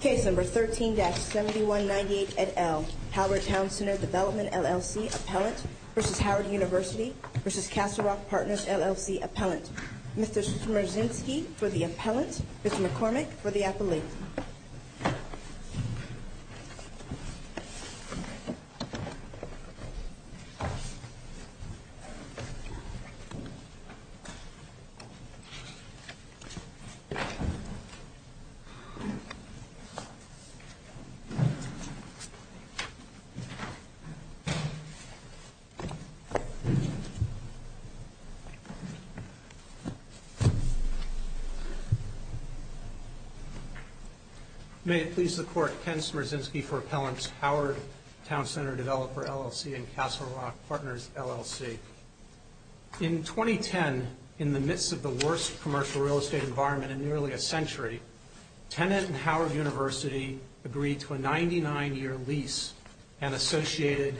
Case No. 13-7198 et al. Howard Town Center Development LLC Appellant v. Howard University v. Castle Rock Partners LLC Appellant Mr. Smierczynski for the Appellant, Mr. McCormick for the Appellate May it please the Court, Ken Smierczynski for Appellant, Howard Town Center Developer LLC and Castle Rock Partners LLC In 2010, in the midst of the worst commercial real estate environment in nearly a century, Tennent and Howard University agreed to a 99-year lease and associated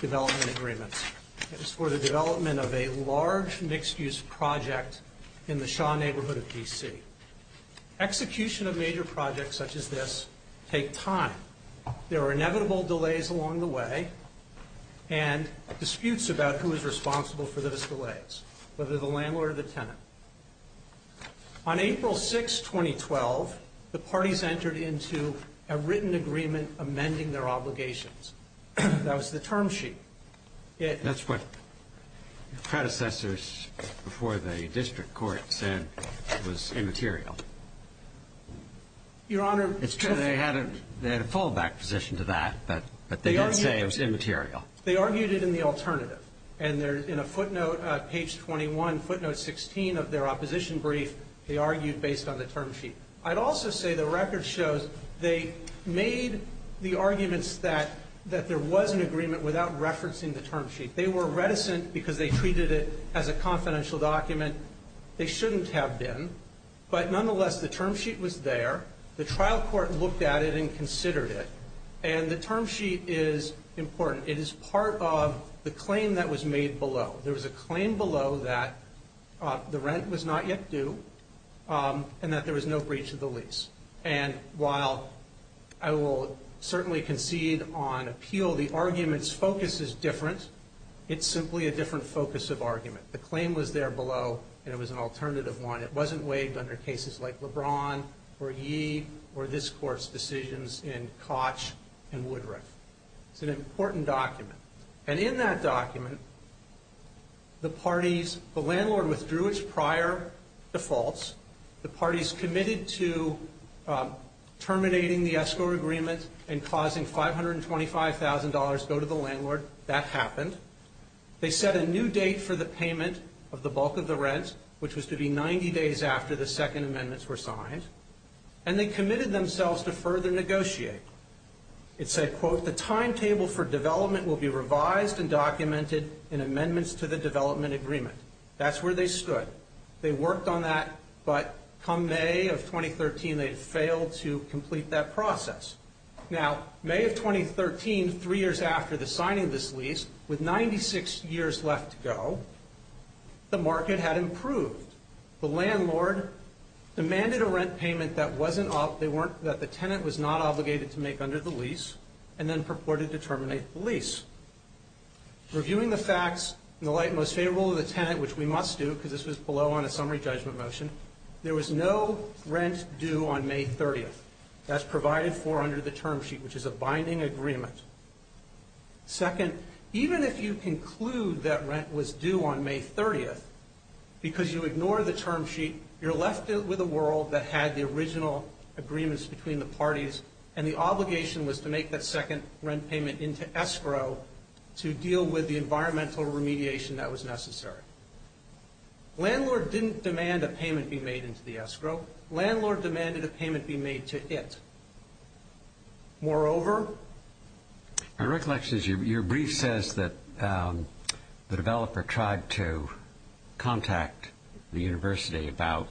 development agreements for the development of a large mixed-use project in the Shaw neighborhood of D.C. Execution of major projects such as this take time. There are inevitable delays along the way and disputes about who is responsible for those delays, whether the landlord or the tenant. On April 6, 2012, the parties entered into a written agreement amending their obligations. That was the term sheet. That's what predecessors before the district court said was immaterial. Your Honor, it's true. They had a fallback position to that, but they didn't say it was immaterial. They argued it in the alternative. And in a footnote, page 21, footnote 16 of their opposition brief, they argued based on the term sheet. I'd also say the record shows they made the arguments that there was an agreement without referencing the term sheet. They were reticent because they treated it as a confidential document. They shouldn't have been. But nonetheless, the term sheet was there. The trial court looked at it and considered it. And the term sheet is important. It is part of the claim that was made below. There was a claim below that the rent was not yet due and that there was no breach of the lease. And while I will certainly concede on appeal, the argument's focus is different. It's simply a different focus of argument. The claim was there below, and it was an alternative one. It wasn't weighed under cases like LeBron or Yee or this Court's decisions in Koch and Woodruff. It's an important document. And in that document, the parties, the landlord withdrew its prior defaults. The parties committed to terminating the escrow agreement and causing $525,000 go to the landlord. That happened. They set a new date for the payment of the bulk of the rent, which was to be 90 days after the Second Amendments were signed. And they committed themselves to further negotiate. It said, quote, the timetable for development will be revised and documented in amendments to the development agreement. That's where they stood. They worked on that, but come May of 2013, they'd failed to complete that process. Now, May of 2013, three years after the signing of this lease, with 96 years left to go, the market had improved. The landlord demanded a rent payment that the tenant was not obligated to make under the lease and then purported to terminate the lease. Reviewing the facts in the light most favorable of the tenant, which we must do because this was below on a summary judgment motion, there was no rent due on May 30th. That's provided for under the term sheet, which is a binding agreement. Second, even if you conclude that rent was due on May 30th, because you ignore the term sheet, you're left with a world that had the original agreements between the parties, and the obligation was to make that second rent payment into escrow to deal with the environmental remediation that was necessary. Landlord didn't demand a payment be made into the escrow. Landlord demanded a payment be made to it. Moreover? My recollection is your brief says that the developer tried to contact the university about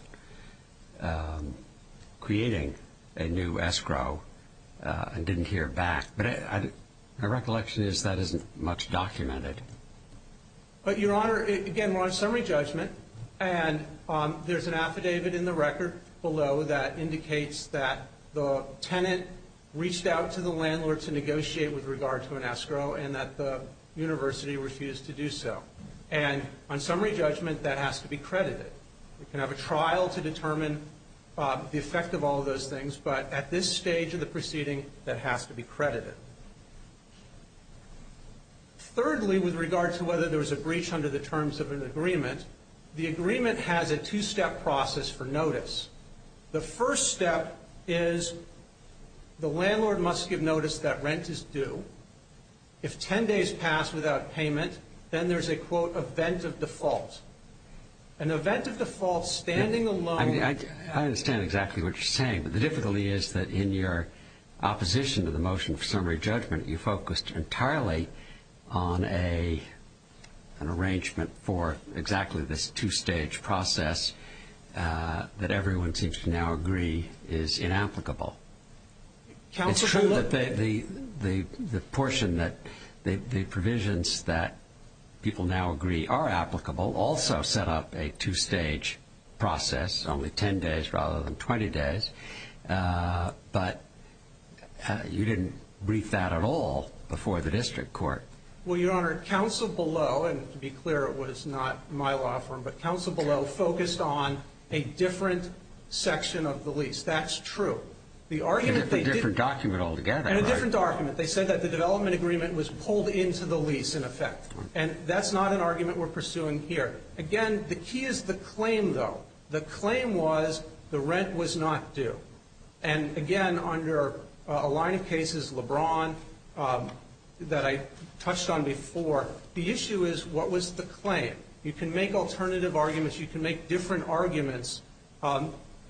creating a new escrow and didn't hear back. But my recollection is that isn't much documented. But, Your Honor, again, we're on summary judgment, and there's an affidavit in the record below that indicates that the tenant reached out to the landlord to negotiate with regard to an escrow and that the university refused to do so. And on summary judgment, that has to be credited. You can have a trial to determine the effect of all those things, but at this stage of the proceeding, that has to be credited. Thirdly, with regard to whether there was a breach under the terms of an agreement, the agreement has a two-step process for notice. The first step is the landlord must give notice that rent is due. If 10 days pass without payment, then there's a, quote, event of default. An event of default standing alone. I understand exactly what you're saying, but the difficulty is that in your opposition to the motion for summary judgment, you focused entirely on an arrangement for exactly this two-stage process that everyone seems to now agree is inapplicable. It's true that the portion that the provisions that people now agree are applicable also set up a two-stage process, only 10 days rather than 20 days. But you didn't brief that at all before the district court. Well, Your Honor, counsel below, and to be clear, it was not my law firm, but counsel below focused on a different section of the lease. That's true. And a different document altogether. And a different document. They said that the development agreement was pulled into the lease in effect. And that's not an argument we're pursuing here. Again, the key is the claim, though. The claim was the rent was not due. And, again, under a line of cases, LeBron, that I touched on before, the issue is what was the claim? You can make alternative arguments. You can make different arguments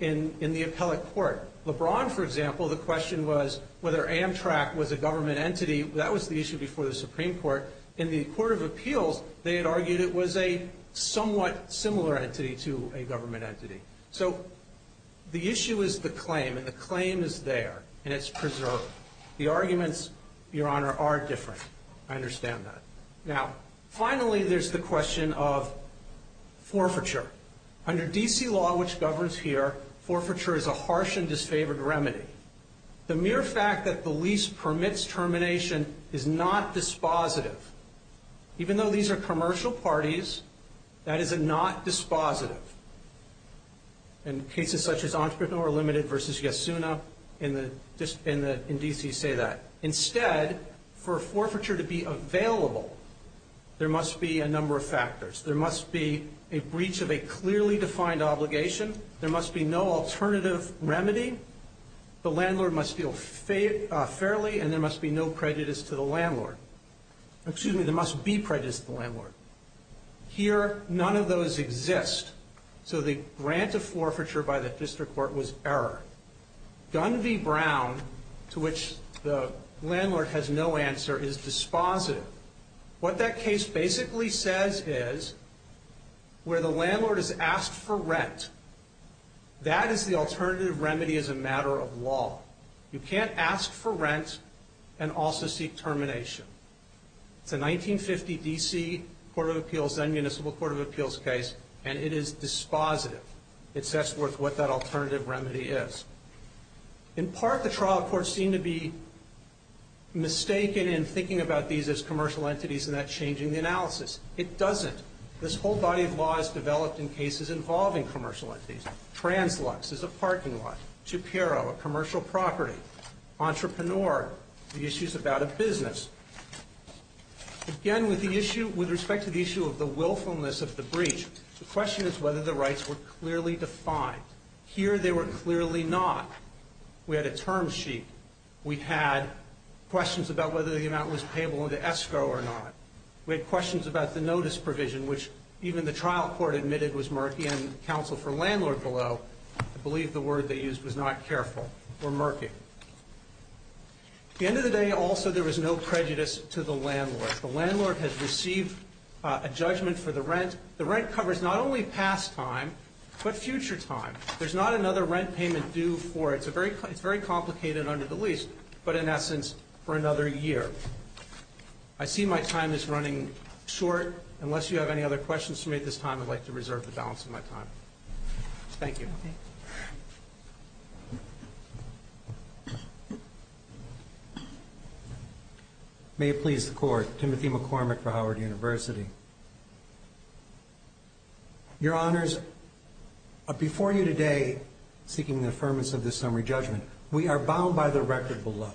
in the appellate court. LeBron, for example, the question was whether Amtrak was a government entity. That was the issue before the Supreme Court. In the Court of Appeals, they had argued it was a somewhat similar entity to a government entity. So the issue is the claim, and the claim is there, and it's preserved. The arguments, Your Honor, are different. I understand that. Now, finally, there's the question of forfeiture. Under D.C. law, which governs here, forfeiture is a harsh and disfavored remedy. The mere fact that the lease permits termination is not dispositive. Even though these are commercial parties, that is not dispositive. And cases such as Entrepreneur Limited versus Yasuna in D.C. say that. Instead, for forfeiture to be available, there must be a number of factors. There must be a breach of a clearly defined obligation. There must be no alternative remedy. The landlord must deal fairly, and there must be no prejudice to the landlord. Excuse me, there must be prejudice to the landlord. Here, none of those exist. So the grant of forfeiture by the district court was error. Gun v. Brown, to which the landlord has no answer, is dispositive. What that case basically says is, where the landlord is asked for rent, that is the alternative remedy as a matter of law. You can't ask for rent and also seek termination. It's a 1950 D.C. Court of Appeals, then Municipal Court of Appeals case, and it is dispositive. It sets forth what that alternative remedy is. In part, the trial courts seem to be mistaken in thinking about these as commercial entities and that changing the analysis. It doesn't. This whole body of law is developed in cases involving commercial entities. Translux is a parking lot. Shapiro, a commercial property. Entrepreneur, the issue is about a business. Again, with respect to the issue of the willfulness of the breach, the question is whether the rights were clearly defined. Here they were clearly not. We had a term sheet. We had questions about whether the amount was payable under ESCO or not. We had questions about the notice provision, which even the trial court admitted was murky, and counsel for landlord below, I believe the word they used was not careful, were murky. At the end of the day, also, there was no prejudice to the landlord. The landlord has received a judgment for the rent. The rent covers not only past time but future time. There's not another rent payment due for it. It's very complicated under the lease, but in essence for another year. I see my time is running short. Unless you have any other questions for me at this time, I'd like to reserve the balance of my time. Thank you. Thank you. May it please the Court. Timothy McCormick for Howard University. Your Honors, before you today, seeking the affirmance of this summary judgment, we are bound by the record below,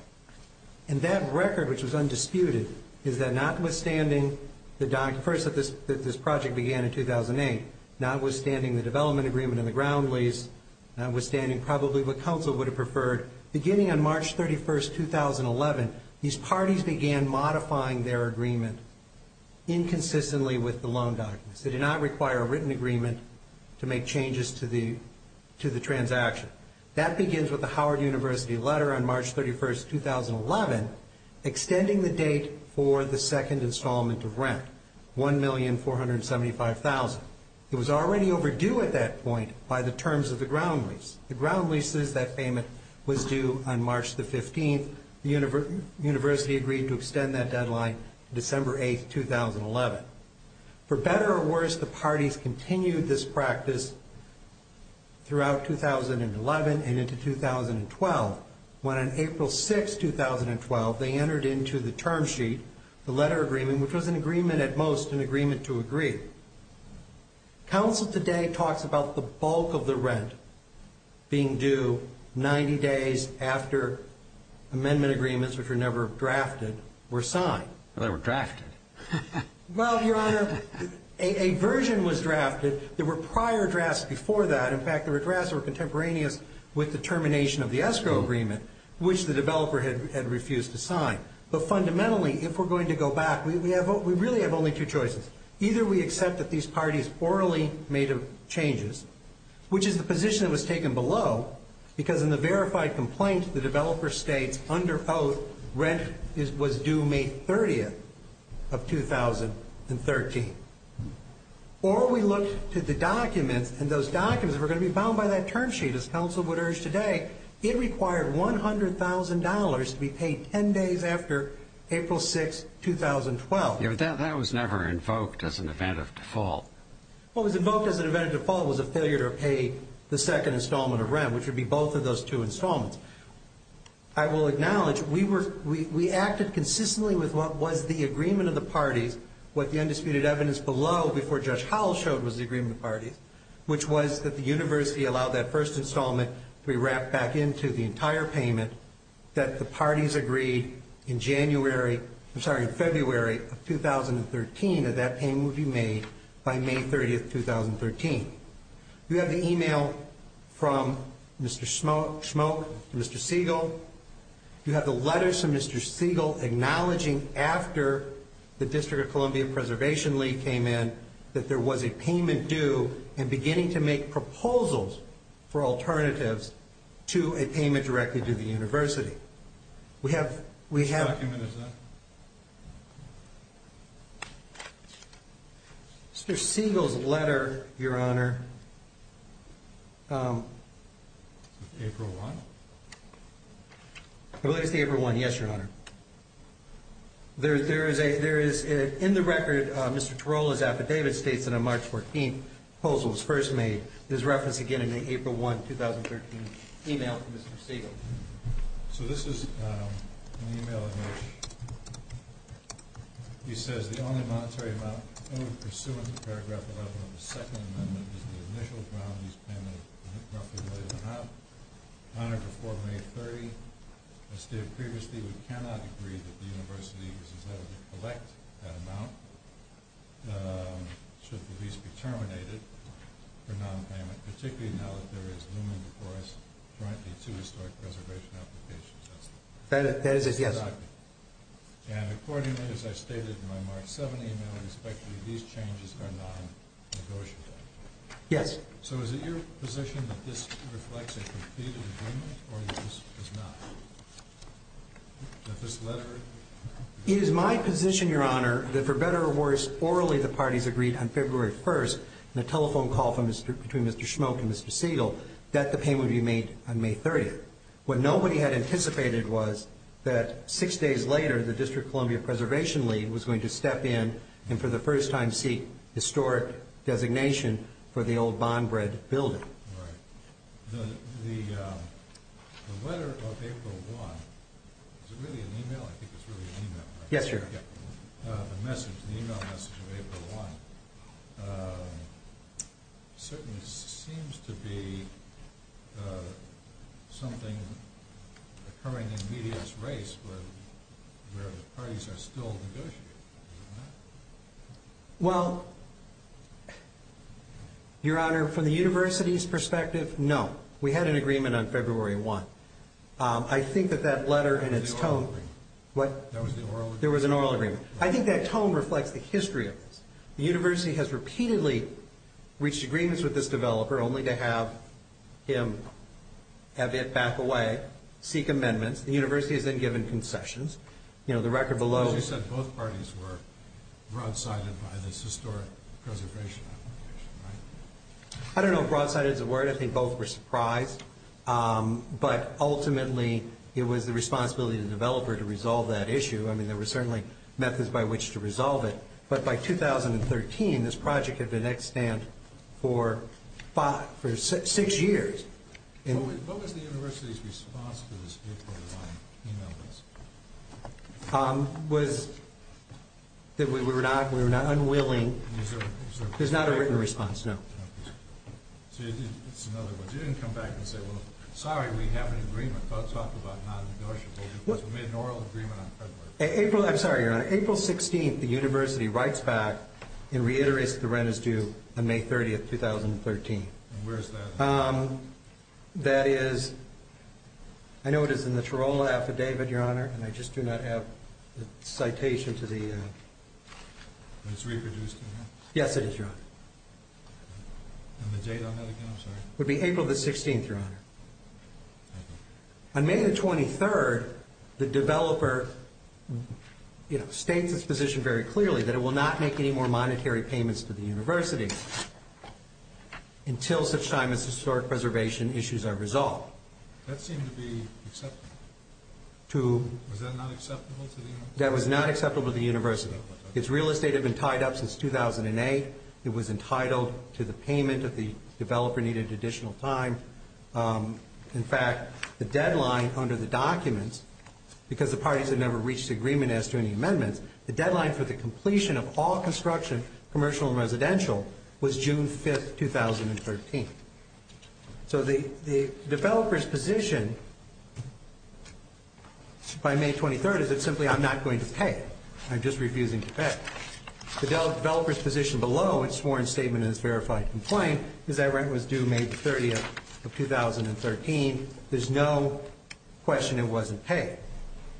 and that record, which was undisputed, is that notwithstanding the document, first that this project began in 2008, notwithstanding the development agreement and the ground lease, notwithstanding probably what counsel would have preferred, beginning on March 31, 2011, these parties began modifying their agreement inconsistently with the loan documents. They did not require a written agreement to make changes to the transaction. That begins with the Howard University letter on March 31, 2011, extending the date for the second installment of rent, $1,475,000. It was already overdue at that point by the terms of the ground lease. The ground lease is that payment was due on March 15. The university agreed to extend that deadline December 8, 2011. For better or worse, the parties continued this practice throughout 2011 and into 2012, when on April 6, 2012, they entered into the term sheet the letter agreement, which was an agreement at most, an agreement to agree. Counsel today talks about the bulk of the rent being due 90 days after amendment agreements, which were never drafted, were signed. They were drafted. Well, Your Honor, a version was drafted. There were prior drafts before that. In fact, there were drafts that were contemporaneous with the termination of the escrow agreement, which the developer had refused to sign. But fundamentally, if we're going to go back, we really have only two choices. Either we accept that these parties orally made changes, which is the position that was taken below, because in the verified complaint, the developer states under oath rent was due May 30, 2013. Or we look to the documents, and those documents were going to be bound by that term sheet, as counsel would urge today. It required $100,000 to be paid 10 days after April 6, 2012. That was never invoked as an event of default. What was invoked as an event of default was a failure to pay the second installment of rent, which would be both of those two installments. I will acknowledge we acted consistently with what was the agreement of the parties, what the undisputed evidence below before Judge Howell showed was the agreement of the parties, which was that the university allowed that first installment to be wrapped back into the entire payment, that the parties agreed in February of 2013 that that payment would be made by May 30, 2013. We have the email from Mr. Schmoke and Mr. Siegel. You have the letters from Mr. Siegel acknowledging after the District of Columbia Preservation League came in that there was a payment due and beginning to make proposals for alternatives to a payment directly to the university. Which document is that? Mr. Siegel's letter, Your Honor. April 1? It relates to April 1, yes, Your Honor. In the record, Mr. Tarullo's affidavit states that a March 14 proposal was first made. There's reference again in the April 1, 2013 email from Mr. Siegel. So this is an email in which he says, The only monetary amount owed pursuant to Paragraph 11 of the Second Amendment is the initial ground lease payment roughly a million and a half. On or before May 30, as stated previously, we cannot agree that the university is entitled to collect that amount should the lease be terminated for nonpayment, particularly now that there is looming before us currently two historic preservation applications. That is his answer. And accordingly, as I stated in my March 7 email, respectively, these changes are non-negotiable. Yes. So is it your position that this reflects a completed agreement or that this does not? That this letter... It is my position, Your Honor, that for better or worse, orally the parties agreed on February 1, in a telephone call between Mr. Schmoke and Mr. Siegel, that the payment would be made on May 30. What nobody had anticipated was that six days later, the District of Columbia Preservation League was going to step in and for the first time seek historic designation for the old Bondbred Building. Right. The letter of April 1, is it really an email? I think it's really an email, right? Yes, Your Honor. The message, the email message of April 1, certainly seems to be something occurring in media's race where the parties are still negotiating, isn't it? Well, Your Honor, from the University's perspective, no. We had an agreement on February 1. I think that that letter and its tone... There was an oral agreement. There was an oral agreement. I think that tone reflects the history of this. The University has repeatedly reached agreements with this developer only to have him have it back away, seek amendments. The University has then given concessions. You know, the record below... As you said, both parties were broadsided by this historic preservation application, right? I don't know if broadsided is a word. I think both were surprised. But ultimately, it was the responsibility of the developer to resolve that issue. I mean, there were certainly methods by which to resolve it. But by 2013, this project had been at stand for six years. What was the University's response to this April 1 email message? It was that we were not unwilling. There's not a written response, no. It's another one. You didn't come back and say, well, sorry, we have an agreement. We made an oral agreement on February. I'm sorry, Your Honor. April 16, the University writes back and reiterates that the rent is due on May 30, 2013. Where is that? That is... I know it is in the Tirola affidavit, Your Honor, and I just do not have the citation to the... It's reproduced in there? Yes, it is, Your Honor. And the date on that again, I'm sorry? It would be April the 16th, Your Honor. On May the 23rd, the developer states its position very clearly that it will not make any more monetary payments to the University until such time as historic preservation issues are resolved. That seemed to be acceptable. Was that not acceptable to the University? That was not acceptable to the University. Its real estate had been tied up since 2008. It was entitled to the payment if the developer needed additional time. In fact, the deadline under the documents, because the parties had never reached agreement as to any amendments, the deadline for the completion of all construction, commercial and residential, was June 5, 2013. So the developer's position by May 23rd is that simply I'm not going to pay. I'm just refusing to pay. The developer's position below its sworn statement and its verified complaint is that rent was due May the 30th of 2013. There's no question it wasn't paid.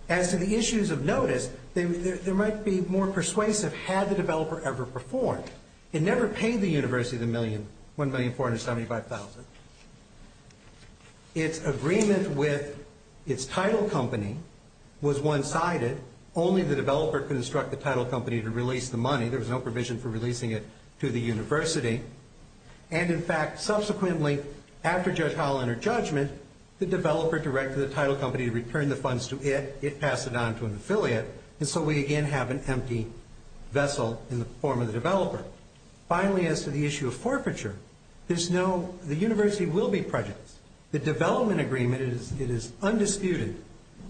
As to the issues of notice, they might be more persuasive had the developer ever performed. It never paid the University the $1,475,000. Its agreement with its title company was one-sided. Only the developer could instruct the title company to release the money. There was no provision for releasing it to the University. And, in fact, subsequently, after Judge Hall entered judgment, the developer directed the title company to return the funds to it. It passed it on to an affiliate. And so we again have an empty vessel in the form of the developer. Finally, as to the issue of forfeiture, the University will be prejudiced. The development agreement, it is undisputed,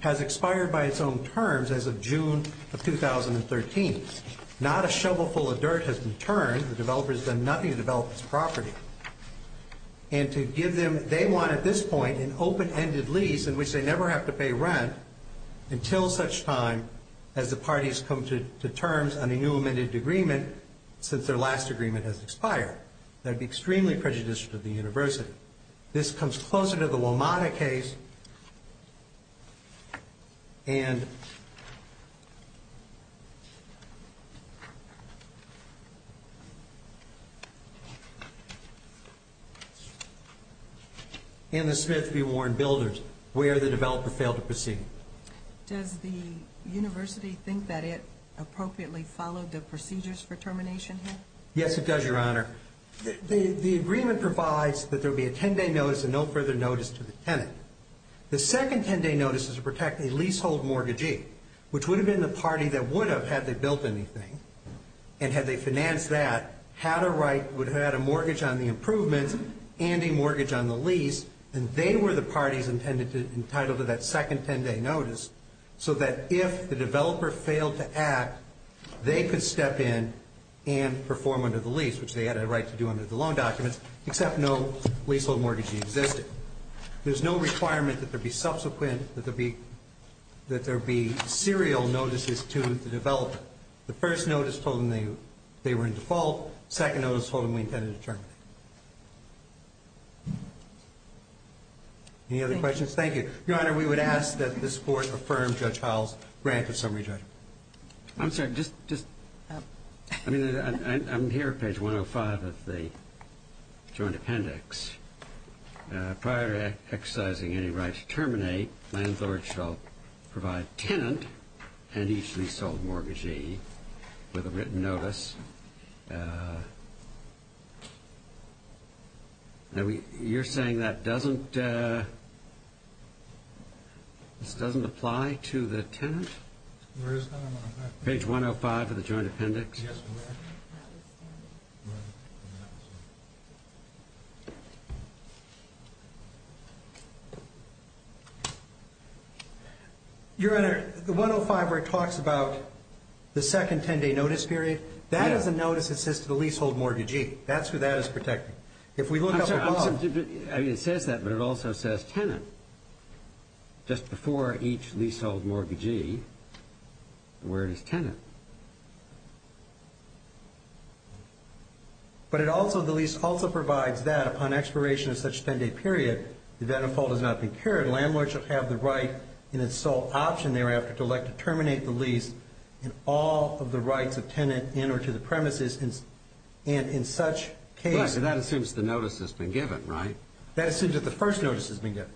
has expired by its own terms as of June of 2013. Not a shovel full of dirt has been turned. The developer has done nothing to develop this property. And to give them, they want at this point, an open-ended lease in which they never have to pay rent until such time as the parties come to terms on a new amended agreement since their last agreement has expired. That would be extremely prejudicious to the University. This comes closer to the Womata case. And the Smith v. Warren Builders, where the developer failed to proceed. Does the University think that it appropriately followed the procedures for termination here? Yes, it does, Your Honor. The agreement provides that there will be a 10-day notice It does not provide a 10-day notice to the developer. The second 10-day notice is to protect a leasehold mortgagee, which would have been the party that would have, had they built anything and had they financed that, would have had a mortgage on the improvements and a mortgage on the lease. And they were the parties entitled to that second 10-day notice so that if the developer failed to act, they could step in and perform under the lease, which they had a right to do under the loan documents, except no leasehold mortgagee existed. There's no requirement that there be subsequent, that there be serial notices to the developer. The first notice told them they were in default. The second notice told them we intended to terminate. Any other questions? Thank you. Your Honor, we would ask that this Court affirm Judge Howell's grant of summary judgment. I'm sorry. I'm here at page 105 of the Joint Appendix. Prior to exercising any right to terminate, Landlord shall provide tenant and leasehold mortgagee with a written notice. You're saying this doesn't apply to the tenant? Page 105 of the Joint Appendix. Your Honor, the 105 where it talks about the second 10-day notice period, that is a notice that says to the leasehold mortgagee. That's who that is protecting. I mean, it says that, but it also says tenant. Just before each leasehold mortgagee, the word is tenant. But it also, the lease also provides that upon expiration of such 10-day period, if that unfold has not been carried, Landlord shall have the right in its sole option thereafter to elect to terminate the lease in all of the rights of tenant in or to the premises, and in such case. Right, and that assumes the notice has been given, right? That assumes that the first notice has been given,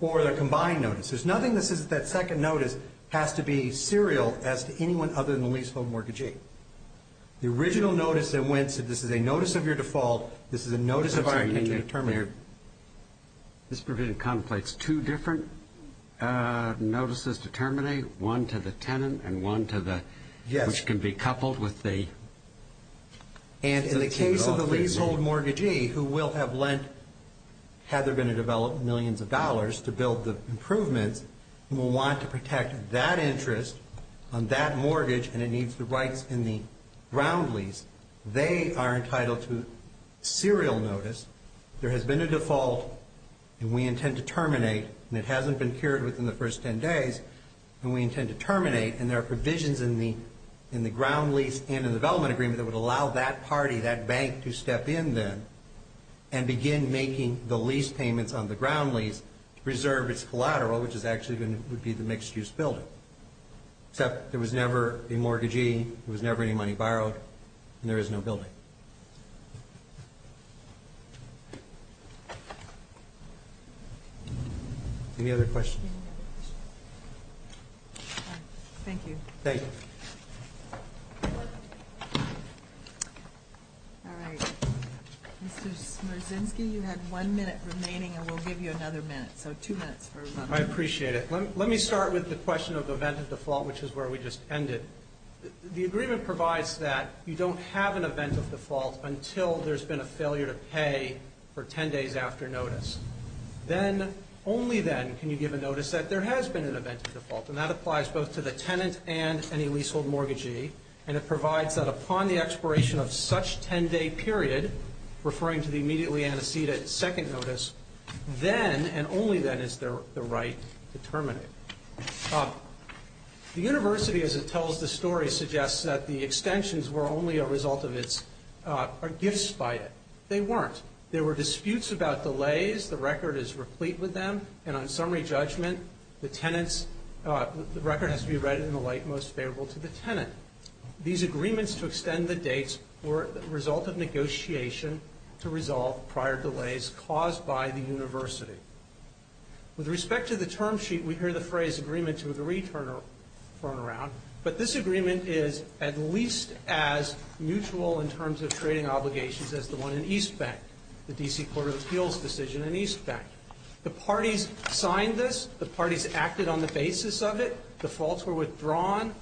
or the combined notice. There's nothing that says that second notice has to be serial as to anyone other than the leasehold mortgagee. The original notice that went, said this is a notice of your default, this is a notice of our intention to terminate. This provision conflates two different notices to terminate, one to the tenant and one to the, which can be coupled with the... And in the case of the leasehold mortgagee who will have lent, had they been to develop millions of dollars to build the improvements, and will want to protect that interest on that mortgage, and it needs the rights in the ground lease, they are entitled to serial notice. There has been a default, and we intend to terminate, and it hasn't been cured within the first 10 days, and we intend to terminate, and there are provisions in the ground lease and in the development agreement that would allow that party, that bank, to step in then and begin making the lease payments on the ground lease to preserve its collateral, which is actually going to be the mixed-use building. Except there was never a mortgagee, there was never any money borrowed, and there is no building. Any other questions? All right, thank you. Thank you. All right. Mr. Smerzinski, you have one minute remaining, and we'll give you another minute, so two minutes for... I appreciate it. Let me start with the question of event of default, which is where we just ended. The agreement provides that you don't have an event of default until there's been a failure to pay for 10 days after notice. Then, only then, can you give a notice that there has been an event of default, and that applies both to the tenant and any leasehold mortgagee, and it provides that upon the expiration of such 10-day period, referring to the immediately antecedent second notice, then, and only then, is the right to terminate. The university, as it tells the story, suggests that the extensions were only a result of its... or gifts by it. They weren't. There were disputes about delays. The record is replete with them, and on summary judgment, the record has to be read in the light most favorable to the tenant. These agreements to extend the dates were a result of negotiation to resolve prior delays caused by the university. With respect to the term sheet, we hear the phrase, agreement to a return turnaround, but this agreement is at least as mutual in terms of trading obligations as the one in East Bank, the D.C. Court of Appeals decision in East Bank. The parties signed this. The parties acted on the basis of it. Defaults were withdrawn.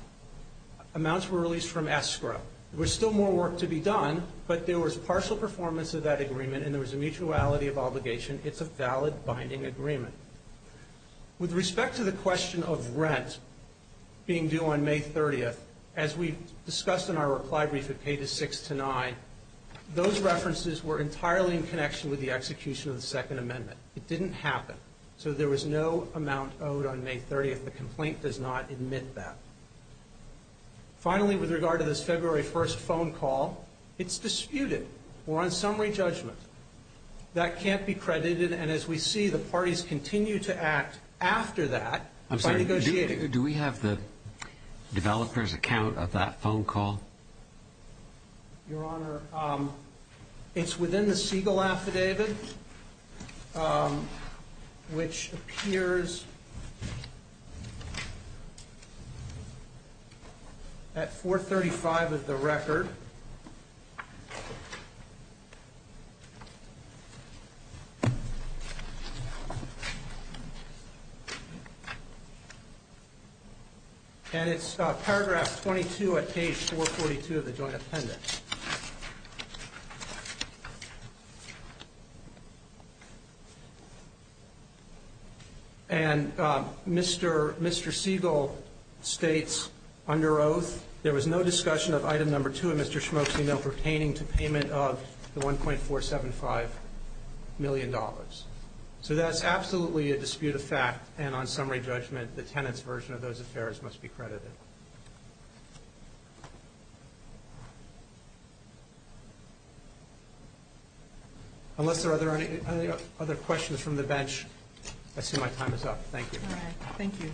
Amounts were released from escrow. There was still more work to be done, but there was partial performance of that agreement, and there was a mutuality of obligation. It's a valid binding agreement. With respect to the question of rent being due on May 30th, as we discussed in our reply brief at pages 6 to 9, those references were entirely in connection with the execution of the Second Amendment. It didn't happen, so there was no amount owed on May 30th. The complaint does not admit that. Finally, with regard to this February 1st phone call, it's disputed. We're on summary judgment. That can't be credited, and as we see, the parties continue to act after that by negotiating. Do we have the developer's account of that phone call? Your Honor, it's within the Siegel affidavit, which appears at 435 of the record, and it's paragraph 22 at page 442 of the joint appendix. And Mr. Siegel states, under oath, there was no discussion of item number 2 in Mr. Schmoke's email pertaining to payment of the $1.475 million. So that's absolutely a dispute of fact, and on summary judgment, the tenant's version of those affairs must be credited. Unless there are other questions from the bench, I assume my time is up. Thank you. All right. Thank you.